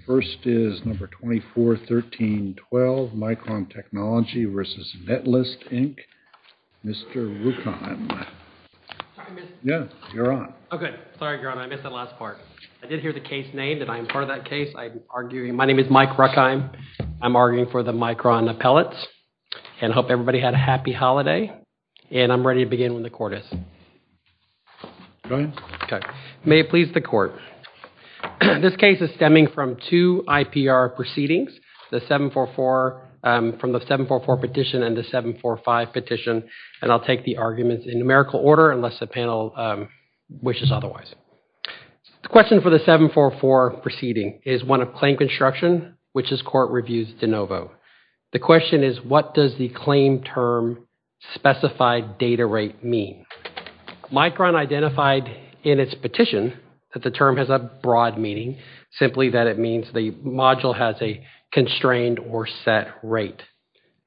The first is No. 241312, Micron Technology v. Netlist, Inc., Mr. Ruckheim. Yeah, you're on. Oh, good. Sorry, Your Honor, I missed that last part. I did hear the case name and I'm part of that case. My name is Mike Ruckheim. I'm arguing for the Micron Appellates. And I hope everybody had a happy holiday. And I'm ready to begin when the court is. Go ahead. May it please the court. This case is stemming from two IPR proceedings. The 744, from the 744 petition and the 745 petition. And I'll take the arguments in numerical order unless the panel wishes otherwise. The question for the 744 proceeding is one of claim construction, which this court reviews de novo. The question is what does the claim term specified data rate mean? Micron identified in its petition that the term has a broad meaning, simply that it means the module has a constrained or set rate.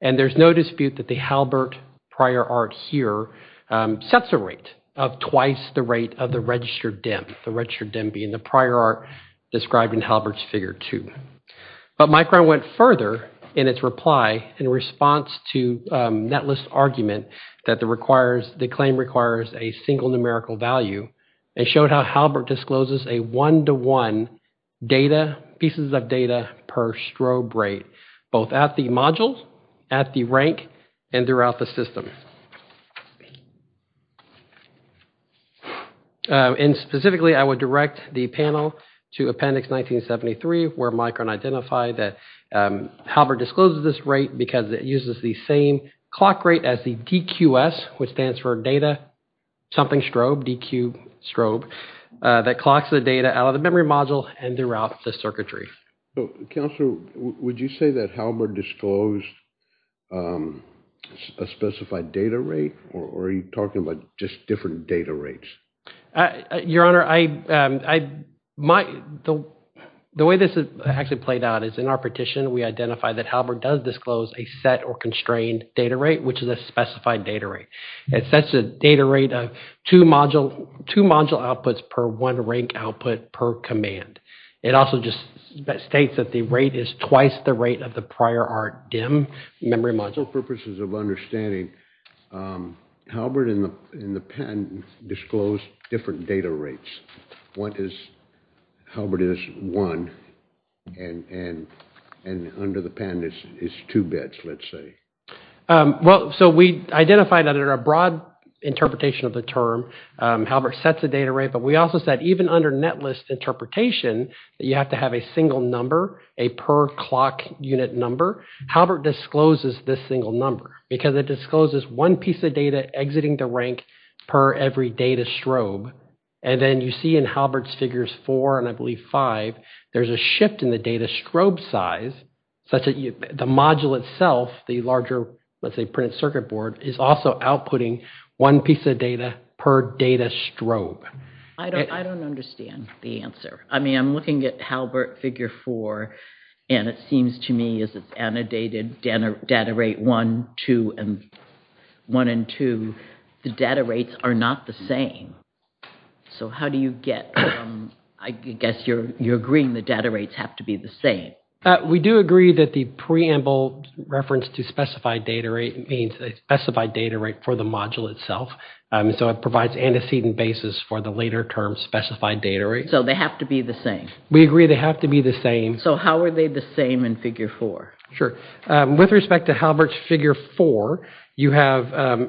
And there's no dispute that the Halbert prior art here sets a rate of twice the rate of the registered DEM, the registered DEM being the prior art described in Halbert's Figure 2. But Micron went further in its reply in response to Netlist's argument that the claim requires a single numerical value. It showed how Halbert discloses a one-to-one data, pieces of data per strobe rate, both at the module, at the rank, and throughout the system. And specifically, I would direct the panel to appendix 1973, where Micron identified that Halbert discloses this rate because it uses the same clock rate as the DQS, which stands for data something strobe, DQ strobe, that clocks the data out of the memory module and throughout the circuitry. Counselor, would you say that Halbert disclosed a specified data rate, or are you talking about just different data rates? Your Honor, the way this actually played out is in our petition, we identified that Halbert does disclose a set or constrained data rate, which is a specified data rate. It sets a data rate of two module outputs per one rank output per command. It also just states that the rate is twice the rate of the prior art DEM memory module. For purposes of understanding, Halbert and the patent disclosed different data rates. Halbert is one, and under the pen is two bits, let's say. Well, so we identified under a broad interpretation of the term, Halbert sets a data rate, but we also said even under net list interpretation, you have to have a single number, a per clock unit number. Halbert discloses this single number because it discloses one piece of data exiting the rank per every data strobe, and then you see in Halbert's figures four and I believe five, there's a shift in the data strobe size, such that the module itself, the larger, let's say, printed circuit board, is also outputting one piece of data per data strobe. I don't understand the answer. I mean, I'm looking at Halbert figure four, and it seems to me as it's annotated data rate one, two, and one and two, the data rates are not the same. So how do you get... I guess you're agreeing the data rates have to be the same. We do agree that the preamble reference to specified data rate means a specified data rate for the module itself. So it provides antecedent basis for the later term specified data rate. So they have to be the same. We agree they have to be the same. So how are they the same in figure four? With respect to Halbert's figure four, you have...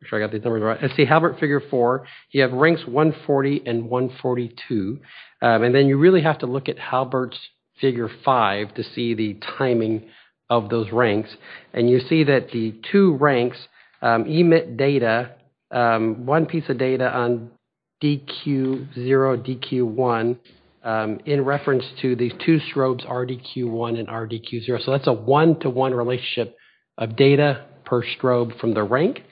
I'm sure I got these numbers right. Let's see, Halbert figure four, you have ranks 140 and 142. And then you really have to look at Halbert's figure five to see the timing of those ranks. And you see that the two ranks emit data, one piece of data on DQ0, DQ1, in reference to these two strobes, RDQ1 and RDQ0. So that's a one-to-one relationship of data per strobe from the rank.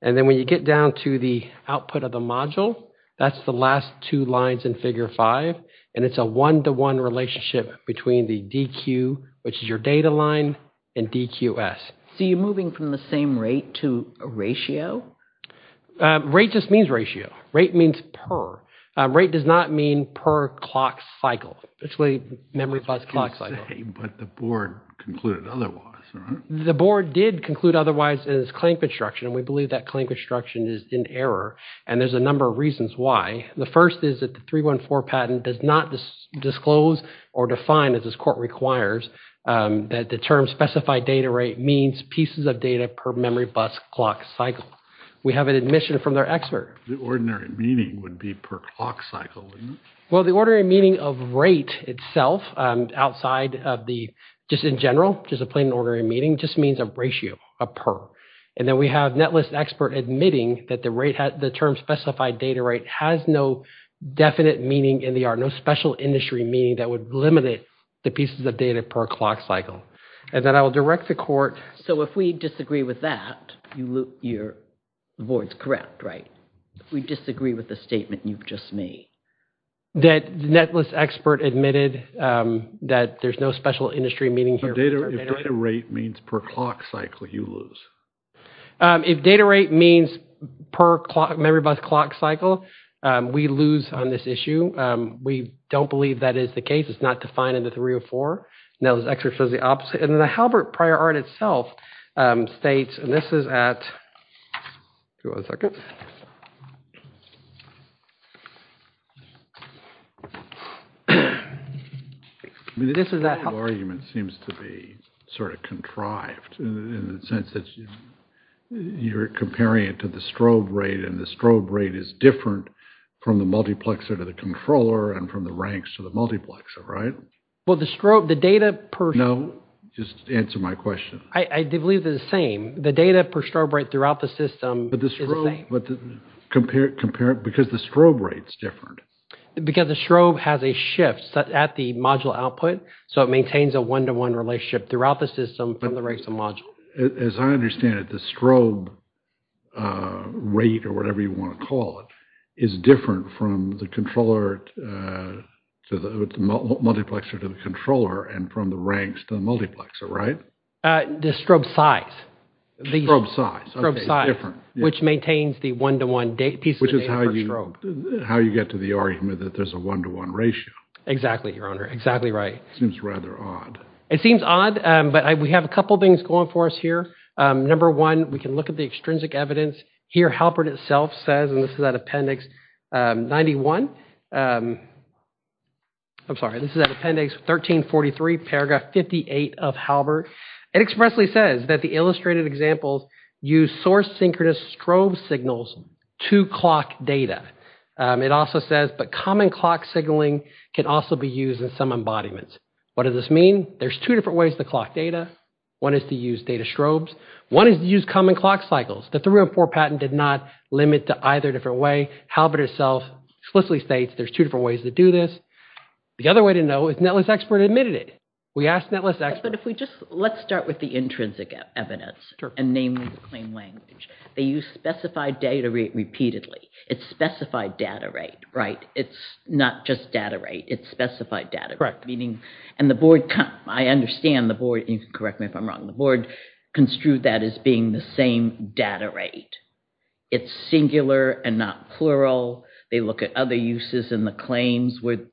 And then when you get down to the output of the module, that's the last two lines in figure five. And it's a one-to-one relationship between the DQ, which is your data line, and DQS. So you're moving from the same rate to a ratio? Rate just means ratio. Rate means per. Rate does not mean per clock cycle. It's really memory bus clock cycle. But the board concluded otherwise, right? The board did conclude otherwise in its claim construction. And we believe that claim construction is in error. And there's a number of reasons why. The first is that the 314 patent does not disclose or define, as this court requires, that the term specified data rate means pieces of data per memory bus clock cycle. We have an admission from their expert. The ordinary meaning would be per clock cycle. Well, the ordinary meaning of rate itself, outside of the just in general, just a plain ordinary meaning, just means a ratio, a per. And then we have a netlist expert admitting that the term specified data rate has no definite meaning in the art, no special industry meaning that would limit it, the pieces of data per clock cycle. And then I will direct the court. So if we disagree with that, the board's correct, right? We disagree with the statement you've just made. That the netlist expert admitted that there's no special industry meaning here. If data rate means per clock cycle, you lose. If data rate means per memory bus clock cycle, we lose on this issue. We don't believe that is the case. It's not defined in the 304. Now, this expert says the opposite. And then the Halbert prior art itself states, and this is at, hold on a second. I mean, this argument seems to be sort of contrived in the sense that you're comparing it to the strobe rate and the strobe rate is different from the multiplexer to the controller and from the ranks to the multiplexer, right? Well, the strobe, the data per. No, just answer my question. I believe they're the same. The data per strobe rate throughout the system is the same. But compare it because the strobe rate's different. Because the strobe has a shift at the module output. So it maintains a one-to-one relationship throughout the system from the ranks of module. As I understand it, the strobe rate or whatever you want to call it is different from the controller to the multiplexer to the controller and from the ranks to the multiplexer, right? The strobe size. The strobe size, okay, it's different. Which maintains the one-to-one piece of data per strobe. Which is how you get to the argument that there's a one-to-one ratio. Exactly, Your Honor, exactly right. Seems rather odd. It seems odd, but we have a couple things going for us here. Number one, we can look at the extrinsic evidence. Here, Halpert itself says, and this is at appendix 91. I'm sorry, this is at appendix 1343, paragraph 58 of Halpert. It expressly says that the illustrated examples use source-synchronous strobe signals to clock data. It also says, but common clock signaling can also be used in some embodiments. What does this mean? There's two different ways to clock data. One is to use data strobes. One is to use common clock cycles. The 304 patent did not limit to either different way. Halpert itself explicitly states there's two different ways to do this. The other way to know is Netlist Expert admitted it. We asked Netlist Expert. But if we just, let's start with the intrinsic evidence, and namely the claim language. They use specified data repeatedly. It's specified data rate, right? It's not just data rate. It's specified data rate. Meaning, and the board, I understand the board, and you can correct me if I'm wrong, the board construed that as being the same data rate. It's singular and not plural. They look at other uses in the claims when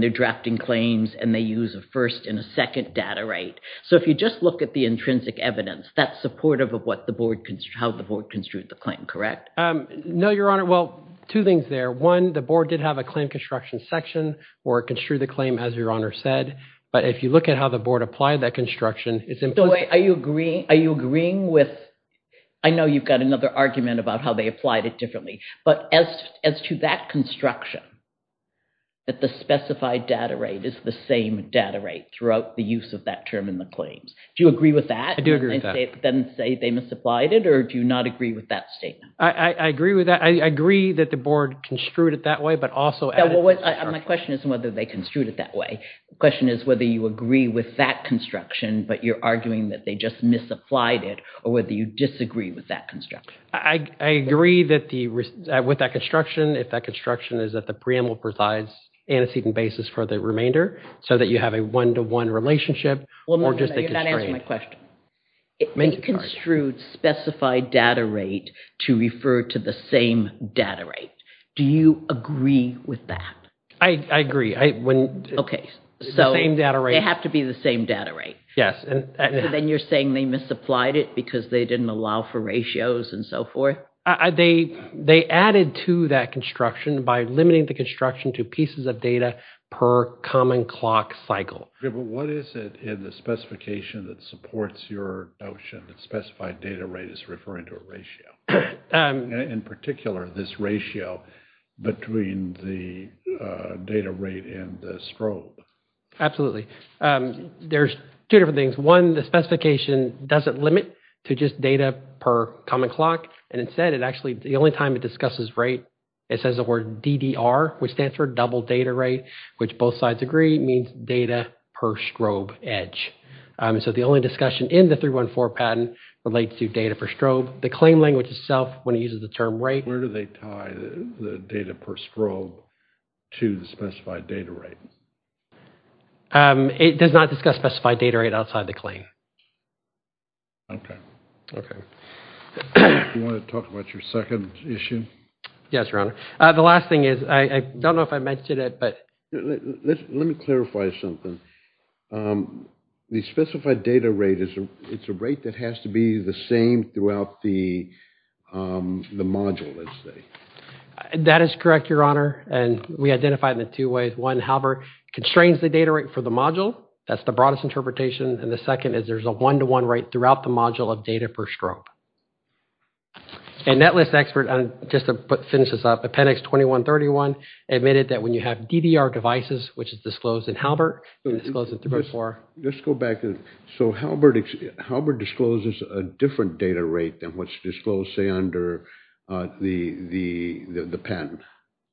they're drafting claims, and they use a first and a second data rate. So if you just look at the intrinsic evidence, that's supportive of how the board construed the claim, correct? No, Your Honor. Well, two things there. One, the board did have a claim construction section where it construed the claim as Your Honor said. But if you look at how the board applied that construction, it's implicit. Are you agreeing with, I know you've got another argument about how they applied it differently. But as to that construction, that the specified data rate is the same data rate throughout the use of that term in the claims. Do you agree with that? I do agree with that. Then say they misapplied it, or do you not agree with that statement? I agree with that. I agree that the board construed it that way, but also added... My question isn't whether they construed it that way. The question is whether you agree with that construction, but you're arguing that they just misapplied it, or whether you disagree with that construction. I agree with that construction, if that construction is that the preamble provides antecedent basis for the remainder, so that you have a one-to-one relationship, or just a constraint. You're not answering my question. They construed specified data rate to refer to the same data rate. Do you agree with that? I agree. The same data rate. They have to be the same data rate. Yes. Then you're saying they misapplied it because they didn't allow for ratios and so forth? They added to that construction by limiting the construction to pieces of data per common clock cycle. What is it in the specification that supports your notion that specified data rate is referring to a ratio? In particular, this ratio between the data rate and the strobe. Absolutely. There's two different things. One, the specification doesn't limit to just data per common clock. Instead, the only time it discusses rate, it says the word DDR, which stands for double data rate, which both sides agree means data per strobe edge. The only discussion in the 314 patent relates to data per strobe. The claim language itself, when it uses the term rate. Where do they tie the data per strobe to the specified data rate? It does not discuss specified data rate outside the claim. Okay. Do you want to talk about your second issue? Yes, Your Honor. The last thing is, I don't know if I mentioned it, but... Let me clarify something. The specified data rate, it's a rate that has to be the same throughout the module, let's say. That is correct, Your Honor, and we identify it in two ways. One, however, constrains the data rate for the module. That's the broadest interpretation. The second is there's a one-to-one rate throughout the module of data per strobe. Netlist expert, just to finish this up, appendix 2131 admitted that when you have DDR devices, which is disclosed in Halbert, and disclosed in 314... Let's go back. Halbert discloses a different data rate than what's disclosed, say, under the patent.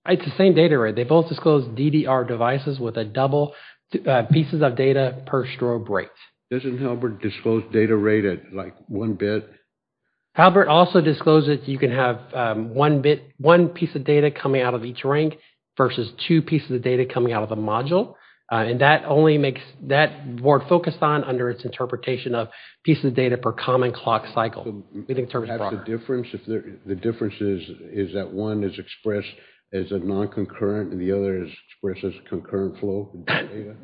It's the same data rate. They both disclose DDR devices with a double pieces of data per strobe rate. Doesn't Halbert disclose data rate at, like, one bit? Halbert also discloses you can have one bit, one piece of data coming out of each ring versus two pieces of data coming out of a module, and that only makes... That we're focused on under its interpretation of pieces of data per common clock cycle. The difference is that one is expressed as a non-concurrent, and the other is expressed as concurrent flow.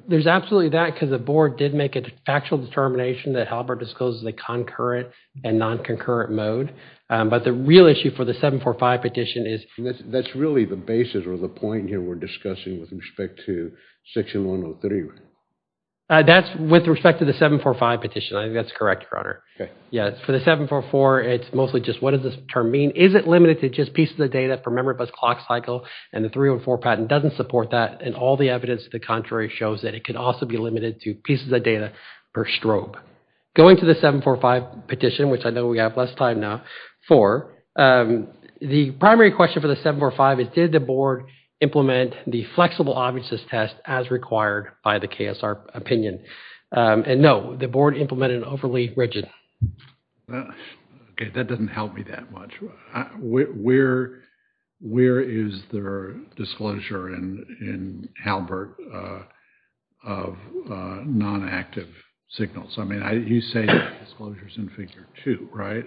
There's absolutely that, because the board did make a factual determination that Halbert discloses the concurrent and non-concurrent mode, but the real issue for the 745 petition is... That's really the basis or the point here we're discussing with respect to section 103, right? That's with respect to the 745 petition. I think that's correct, Your Honor. Okay. Yeah, for the 744, it's mostly just, what does this term mean? Is it limited to just pieces of data per memory bus clock cycle, and the 304 patent doesn't support that, and all the evidence to the contrary shows that it can also be limited to pieces of data per strobe. Going to the 745 petition, which I know we have less time now for, the primary question for the 745 is did the board implement the flexible obviousness test as required by the KSR opinion? And no, the board implemented overly rigid. Okay, that doesn't help me that much. Where is the disclosure in Halbert of non-active signals? I mean, you say disclosures in figure two, right?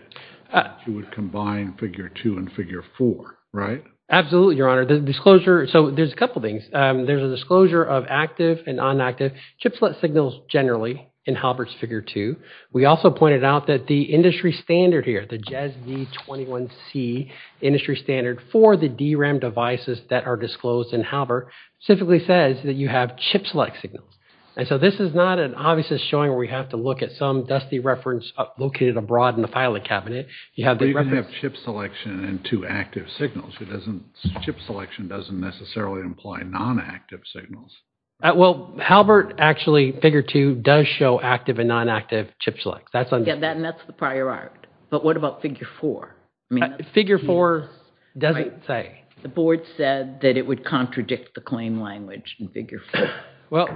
You would combine figure two and figure four, right? Absolutely, Your Honor. The disclosure, so there's a couple things. There's a disclosure of active and inactive chip select signals generally in Halbert's figure two. We also pointed out that the industry standard here, the JES V21C industry standard for the DRAM devices that are disclosed in Halbert specifically says that you have chip select signals, and so this is not an obviousness showing where we have to look at some dusty reference located abroad in the filing cabinet. You have the reference. But you can have chip selection and two active signals. Chip selection doesn't necessarily imply non-active signals. Well, Halbert actually, figure two, does show active and non-active chip selects. Yeah, and that's the prior art. But what about figure four? Figure four doesn't say. The board said that it would contradict the claim language in figure four. Well,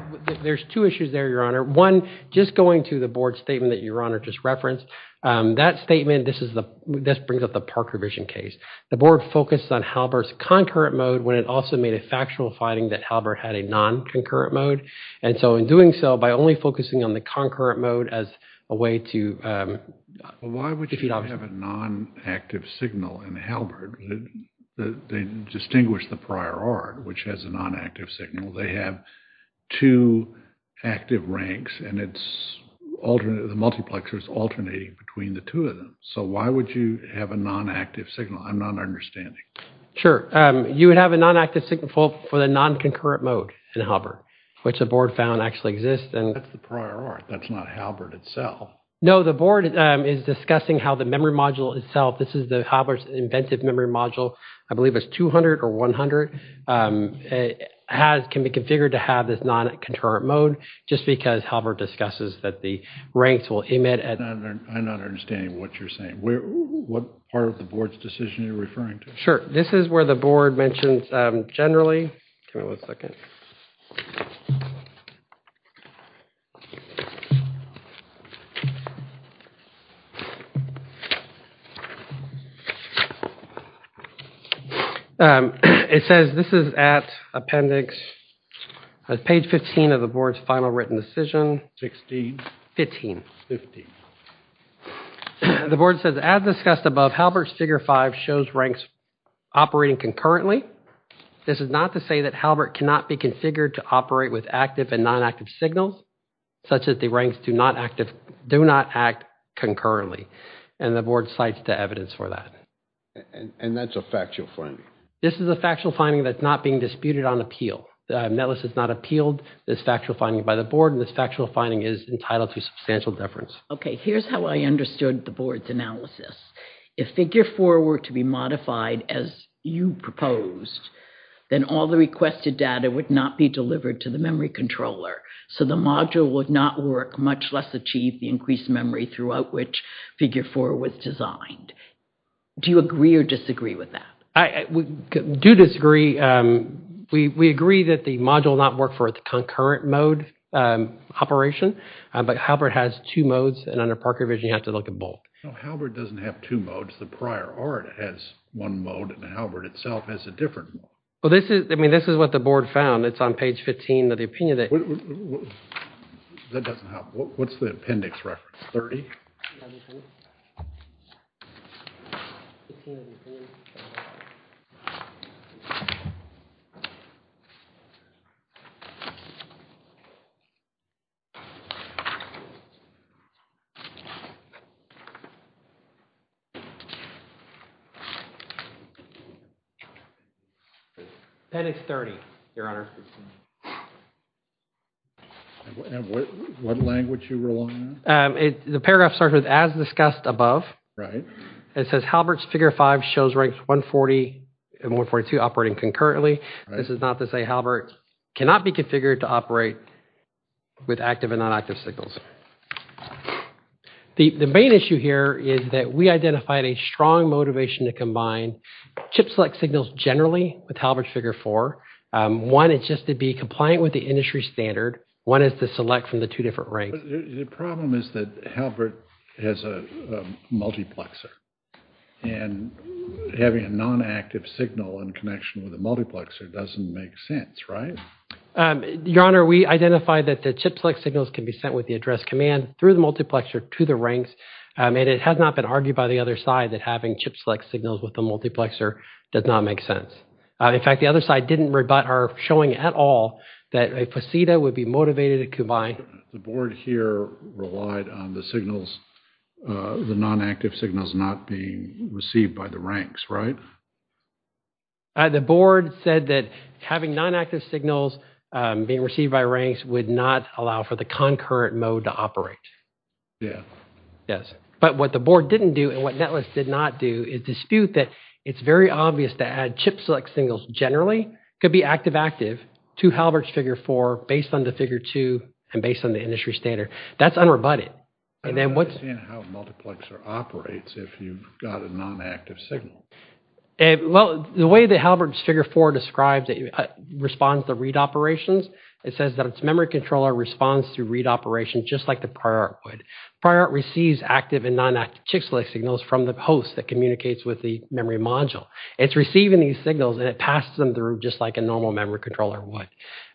there's two issues there, Your Honor. One, just going to the board statement that Your Honor just referenced, that statement, this brings up the Parker vision case. The board focused on Halbert's concurrent mode when it also made a factual finding that Halbert had a non-concurrent mode, and so in doing so, by only focusing on the concurrent mode as a way to defeat obviousness. Why would you have a non-active signal in Halbert that they distinguish the prior art, which has a non-active signal? They have two active ranks, and the multiplexer is alternating between the two of them. So why would you have a non-active signal? I'm not understanding. Sure, you would have a non-active signal for the non-concurrent mode in Halbert, which the board found actually exists. That's the prior art. That's not Halbert itself. No, the board is discussing how the memory module itself, this is the Halbert's inventive memory module. I believe it's 200 or 100. It can be configured to have this non-concurrent mode just because Halbert discusses that the ranks will emit. I'm not understanding what you're saying. What part of the board's decision are you referring to? Sure, this is where the board mentions generally. Give me one second. It says this is at appendix, page 15 of the board's final written decision. 16. 15. 15. The board says as discussed above, Halbert's figure five shows ranks operating concurrently. This is not to say that Halbert cannot be configured to operate with active and non-active signals, such as the ranks do not act concurrently. And the board cites the evidence for that. And that's a factual finding? This is a factual finding that's not being disputed on appeal. Netless has not appealed this factual finding by the board, and this factual finding is entitled to substantial deference. Okay, here's how I understood the board's analysis. If figure four were to be modified as you proposed, then all the requested data would not be delivered to the memory controller. So the module would not work, much less achieve the increased memory throughout which figure four was designed. Do you agree or disagree with that? I do disagree. We agree that the module will not work for the concurrent mode operation, but Halbert has two modes, and under Parker vision, you have to look at both. No, Halbert doesn't have two modes. The prior art has one mode, and Halbert itself has a different one. Well, I mean, this is what the board found. It's on page 15 of the opinion that. That doesn't help. What's the appendix reference, 30? Page 15 of the opinion. Appendix 30, Your Honor. And what language are you relying on? The paragraph starts with as discussed above. It says Halbert's figure five shows ranks 140 and 142 operating concurrently. This is not to say Halbert cannot be configured to operate with active and non-active signals. The main issue here is that we identified a strong motivation to combine chip-select signals generally with Halbert's figure four. One, it's just to be compliant with the industry standard. One is to select from the two different ranks. The problem is that Halbert has a multiplexer, and having a non-active signal in connection with a multiplexer doesn't make sense, right? Your Honor, we identified that the chip-select signals can be sent with the address command through the multiplexer to the ranks, and it has not been argued by the other side that having chip-select signals with the multiplexer does not make sense. In fact, the other side didn't rebut our showing at all that a faceta would be motivated to combine. The board here relied on the signals, the non-active signals not being received by the ranks, right? The board said that having non-active signals being received by ranks would not allow for the concurrent mode to operate. Yeah. Yes. But what the board didn't do and what Netless did not do is dispute that it's very obvious that chip-select signals generally could be active-active to Halbert's Figure 4 based on the Figure 2 and based on the industry standard. That's unrebutted. I don't understand how a multiplexer operates if you've got a non-active signal. Well, the way that Halbert's Figure 4 describes it responds to read operations, it says that its memory controller responds to read operations just like the Priorart would. Priorart receives active and non-active chip-select signals from the host that is the memory module. It's receiving these signals and it passes them through just like a normal memory controller would.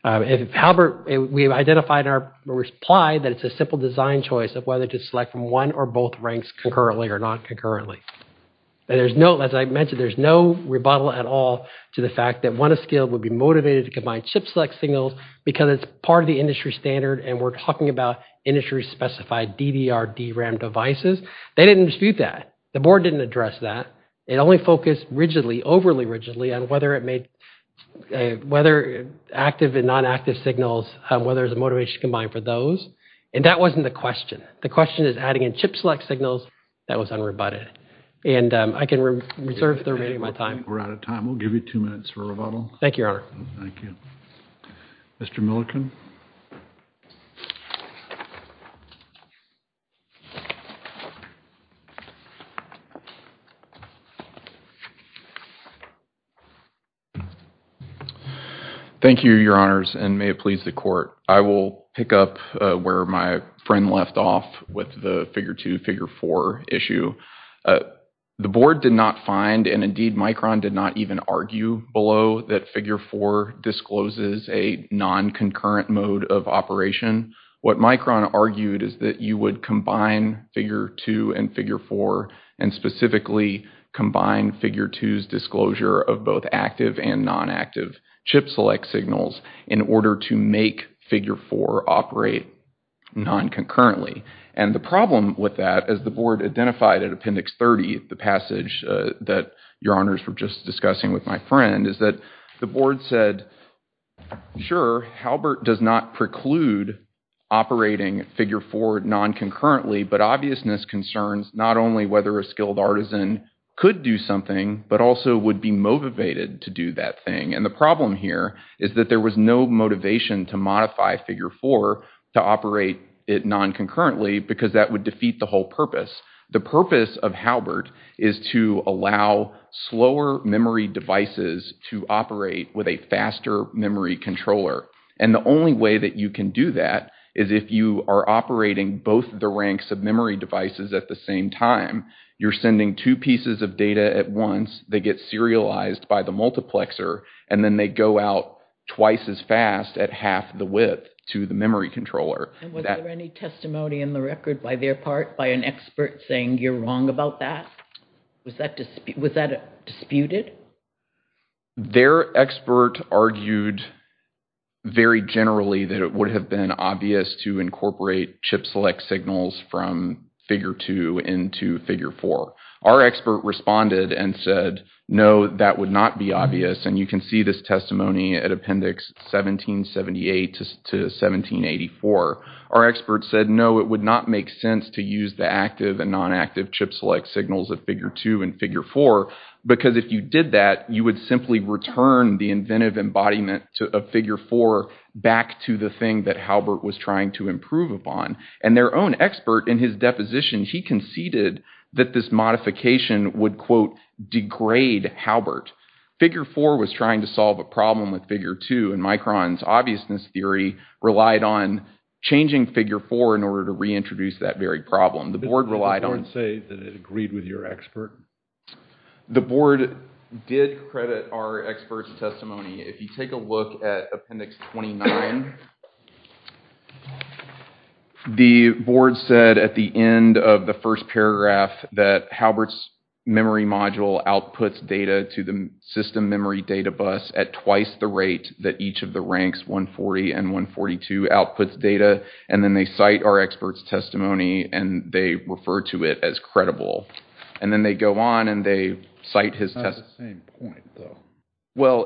Halbert, we've identified in our reply that it's a simple design choice of whether to select from one or both ranks concurrently or not concurrently. There's no, as I mentioned, there's no rebuttal at all to the fact that one of scale would be motivated to combine chip-select signals because it's part of the industry standard and we're talking about industry specified DDR, DRAM devices. They didn't dispute that. The board didn't address that. It only focused rigidly, overly rigidly on whether it made, whether active and non-active signals, whether there's a motivation to combine for those. And that wasn't the question. The question is adding in chip-select signals that was unrebutted. And I can reserve the remaining of my time. We're out of time. We'll give you two minutes for rebuttal. Thank you, Thank you. Mr. Milliken. Thank you, your honors, and may it please the court. I will pick up where my friend left off with the figure two, figure four issue. The board did not find, and indeed Micron did not even argue below that figure four discloses a non-concurrent mode of operation. What Micron argued is that you would combine figure two and figure four and specifically combine figure two's disclosure of both active and non-active chip-select signals in order to make figure four operate non-concurrently. And the problem with that, as the board identified at appendix 30, the passage that your honors were just discussing with my friend is that the board said, Halbert does not preclude operating figure four non-concurrently, but obviousness concerns not only whether a skilled artisan could do something, but also would be motivated to do that thing. And the problem here is that there was no motivation to modify figure four to operate it non-concurrently because that would defeat the whole purpose. The purpose of Halbert is to allow slower memory devices to operate with a faster memory controller. And the only way that you can do that is if you are operating both the ranks of memory devices at the same time. You're sending two pieces of data at once. They get serialized by the multiplexer and then they go out twice as fast at half the width to the memory controller. And was there any testimony in the record by their part by an expert saying you're wrong about that? Was that disputed? Their expert argued very generally that it would have been obvious to incorporate chip select signals from figure two into figure four. Our expert responded and said, no, that would not be obvious. And you can see this testimony at appendix 1778 to 1784. Our expert said, no, it would not make sense to use the active and non-active chip select signals of figure two and figure four, because if you did that, you would simply return the inventive embodiment of figure four back to the And their own expert in his deposition, he conceded that this modification would quote, degrade Halbert. Figure four was trying to solve a problem with figure two and Micron's obviousness theory relied on changing figure four in order to reintroduce that very problem. The board relied on. Did the board say that it agreed with your expert? The board did credit our expert's testimony. If you take a look at appendix 29, the board said at the end of the first paragraph that Halbert's memory module outputs data to the system memory data bus at twice the rate that each of the ranks 140 and 142 outputs data. And then they cite our expert's testimony and they refer to it as credible. And then they go on and they cite his test. That's the same point, though. Well,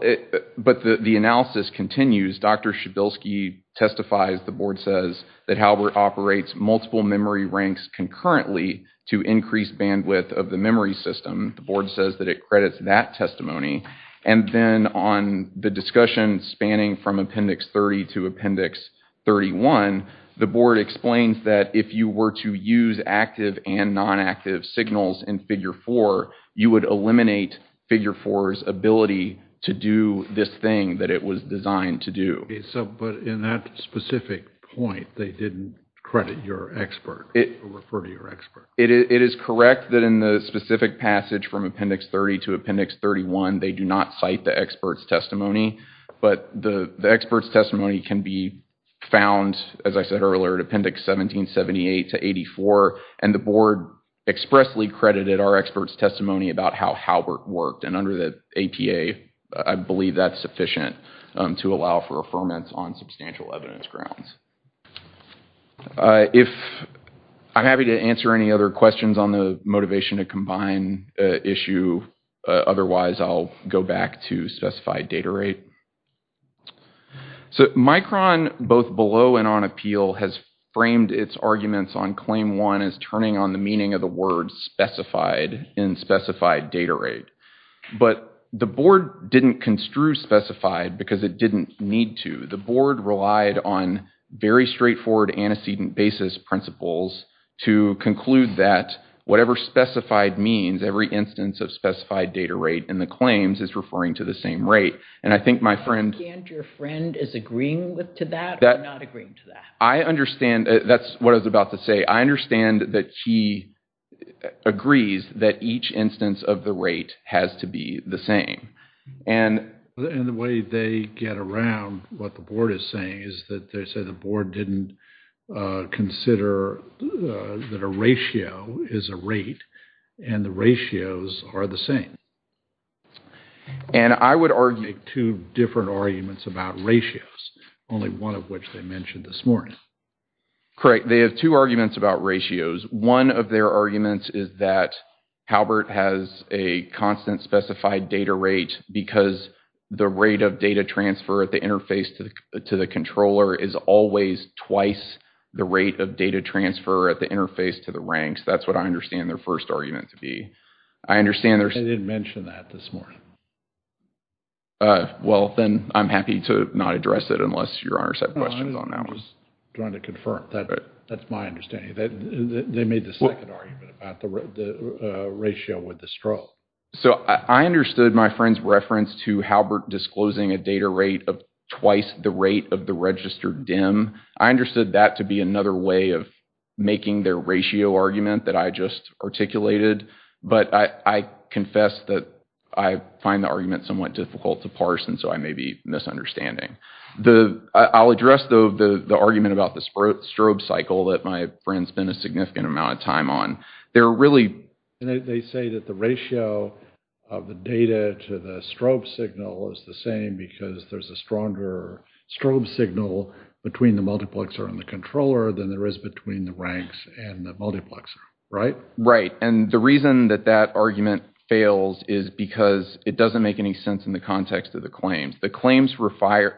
but the analysis continues. Dr. Shabelsky testifies. The board says that Halbert operates multiple memory ranks concurrently to increase bandwidth of the memory system. The board says that it credits that testimony. And then on the discussion spanning from appendix 30 to appendix 31, the board explains that if you were to use active and nonactive signals in the system, you would not be able to predict the figure four's ability to do this thing that it was designed to do. But in that specific point, they didn't credit your expert or refer to your expert. It is correct that in the specific passage from appendix 30 to appendix 31, they do not cite the expert's testimony. But the expert's testimony can be found, as I said earlier, at appendix 1778 to 84, and the board expressly credited our expert's testimony about how Halbert worked. And under the APA, I believe that's sufficient to allow for affirmance on substantial evidence grounds. If I'm happy to answer any other questions on the motivation to combine issue, otherwise I'll go back to specified data rate. So Micron, both below and on appeal, has framed its arguments on claim one as turning on the meaning of the word specified in specified data rate. But the board didn't construe specified because it didn't need to. The board relied on very straightforward antecedent basis principles to conclude that whatever specified means, every instance of specified data rate in the claims is referring to the same rate. And I think my friend... Can't your friend is agreeing to that or not agreeing to that? I understand... That's what I was about to say. I understand that he agrees that each instance of the rate has to be the same. And... And the way they get around what the board is saying is that they say the board didn't consider that a ratio is a rate and the ratios are the same. And I would argue... They have two arguments about ratios. Only one of which they mentioned this morning. Correct. They have two arguments about ratios. One of their arguments is that Halbert has a constant specified data rate because the rate of data transfer at the interface to the controller is always twice the rate of data transfer at the interface to the ranks. That's what I understand their first argument to be. I understand... They didn't mention that this morning. Well, then I'm happy to not address it unless your honors have questions on that one. I'm just trying to confirm. That's my understanding. They made the second argument about the ratio with the straw. So I understood my friend's reference to Halbert disclosing a data rate of twice the rate of the registered DIMM. I understood that to be another way of making their ratio argument that I just articulated. But I confess that I find the argument somewhat difficult to parse. And so I may be misunderstanding. I'll address the argument about the strobe cycle that my friend spent a significant amount of time on. They're really... They say that the ratio of the data to the strobe signal is the same because there's a stronger strobe signal between the multiplexer and the controller than there is between the ranks and the multiplexer. Right? Right. And the reason that that argument fails is because it doesn't make any sense in the context of the claims. The claims require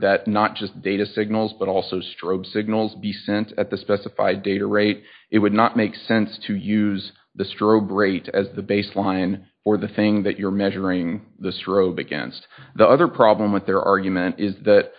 that not just data signals but also strobe signals be sent at the specified data rate. It would not make sense to use the strobe rate as the baseline or the thing that you're measuring the strobe against. The other problem with their argument is that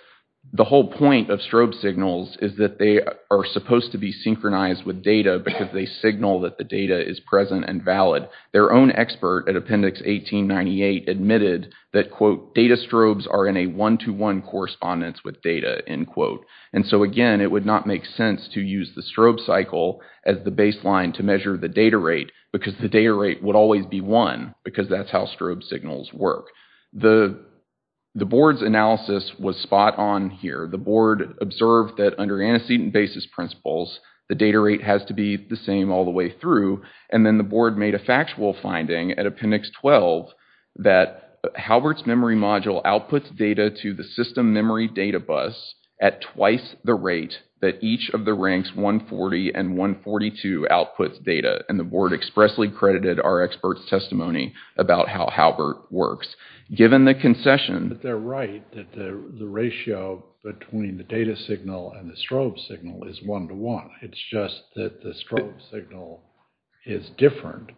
the whole point of strobe signals is that they are supposed to be synchronized with data because they signal that the data is present and valid. Their own expert at Appendix 1898 admitted that, quote, data strobes are in a one-to-one correspondence with data, end quote. And so again, it would not make sense to use the strobe cycle as the baseline to measure the data rate because the data rate would always be one because that's how strobe signals work. The board's analysis was spot on here. The board observed that under antecedent basis principles, the data rate has to be the same all the way through. And then the board made a factual finding at Appendix 12 that Halbert's memory module outputs data to the system memory data bus at twice the rate that each of the ranks 140 and 142 outputs data. And the board expressly credited our experts' testimony about how Halbert works. Given the concession... But they're right that the ratio between the data signal and the strobe signal is one-to-one. It's just that the strobe signal is different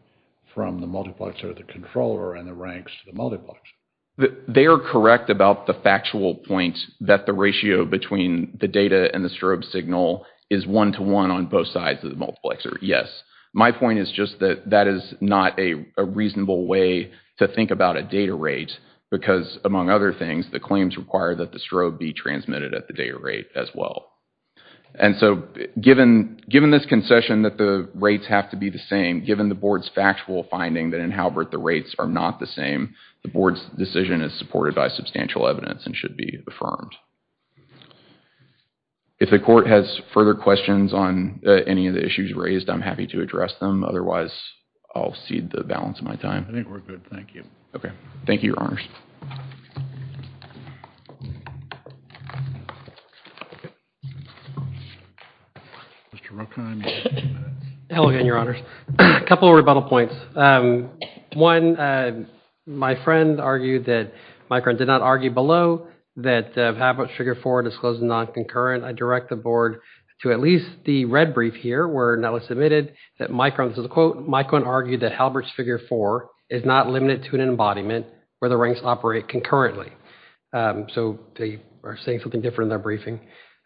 from the multiplexer, the controller, and the ranks to the multiplexer. They are correct about the factual point that the ratio between the data and the strobe signal is one-to-one on both sides of the multiplexer, yes. My point is just that that is not a reasonable way to think about a data rate because, among other things, the claims require that the strobe be transmitted at the data rate as well. And so given this concession that the rates have to be the same, given the board's factual finding that in Halbert the rates are not the same, the board's decision is supported by substantial evidence and should be affirmed. If the court has further questions on any of the issues raised, I'm happy to address them. Otherwise, I'll cede the balance of my time. Thank you. Okay, thank you, Your Honors. Mr. Rokin, you have two minutes. Hello again, Your Honors. A couple of rebuttal points. One, my friend argued that Mike did not argue below that Halbert's figure four disclosed non-concurrent. I direct the board to at least the red brief here where Nellis admitted that Mike, this is a quote, Mike couldn't argue that Halbert's figure four is not limited to an embodiment where the ranks operate concurrently. So they are saying something different in their briefing.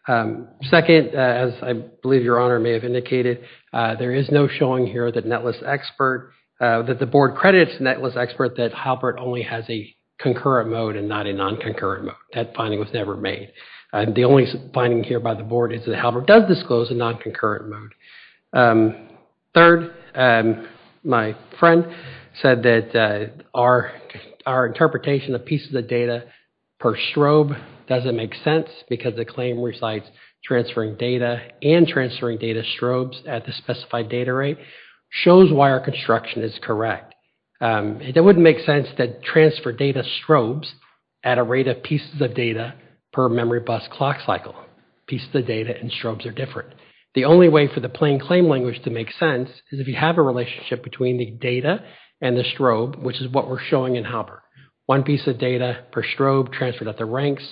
Second, as I believe Your Honor may have indicated, there is no showing here that Nellis expert, that the board credits Nellis expert that Halbert only has a concurrent mode and not a non-concurrent mode. That finding was never made. The only finding here by the board is that Halbert does disclose a non-concurrent mode. Third, my friend said that our interpretation of pieces of data per strobe doesn't make sense because the claim recites transferring data and transferring data strobes at the specified data rate shows why our construction is correct. It wouldn't make sense to transfer data strobes at a rate of pieces of data per memory bus clock cycle. Pieces of data and strobes are different. The only way for the plain claim language to make sense is if you have a relationship between the data and the strobe, which is what we're showing in Halbert. One piece of data per strobe transferred at the ranks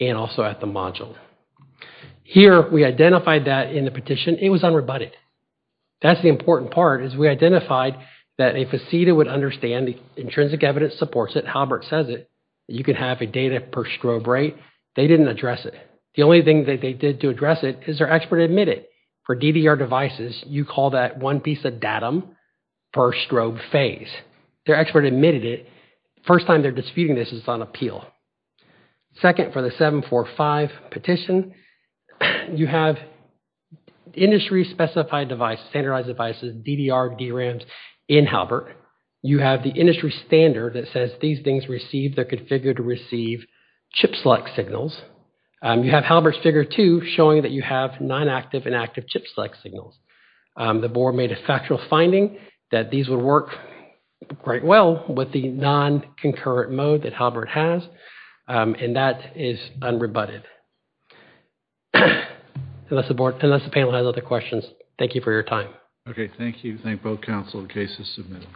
and also at the module. Here, we identified that in the petition. It was unrebutted. That's the important part is we identified that if a CEDA would understand the intrinsic evidence supports it, Halbert says it, you can have a data per strobe rate. They didn't address it. The only thing that they did to address it for DDR devices, you call that one piece of datum per strobe phase. Their expert admitted it. First time they're disputing this is on appeal. Second, for the 745 petition, you have industry specified device, standardized devices, DDR, DRAMs in Halbert. You have the industry standard that says these things receive, they're configured to receive chip select signals. You have Halbert's figure two showing that you have non-active and active chip select signals. The board made a factual finding that these would work quite well with the non-concurrent mode that Halbert has. That is unrebutted. Unless the panel has other questions, thank you for your time. Okay, thank you. Thank both council and cases submitted.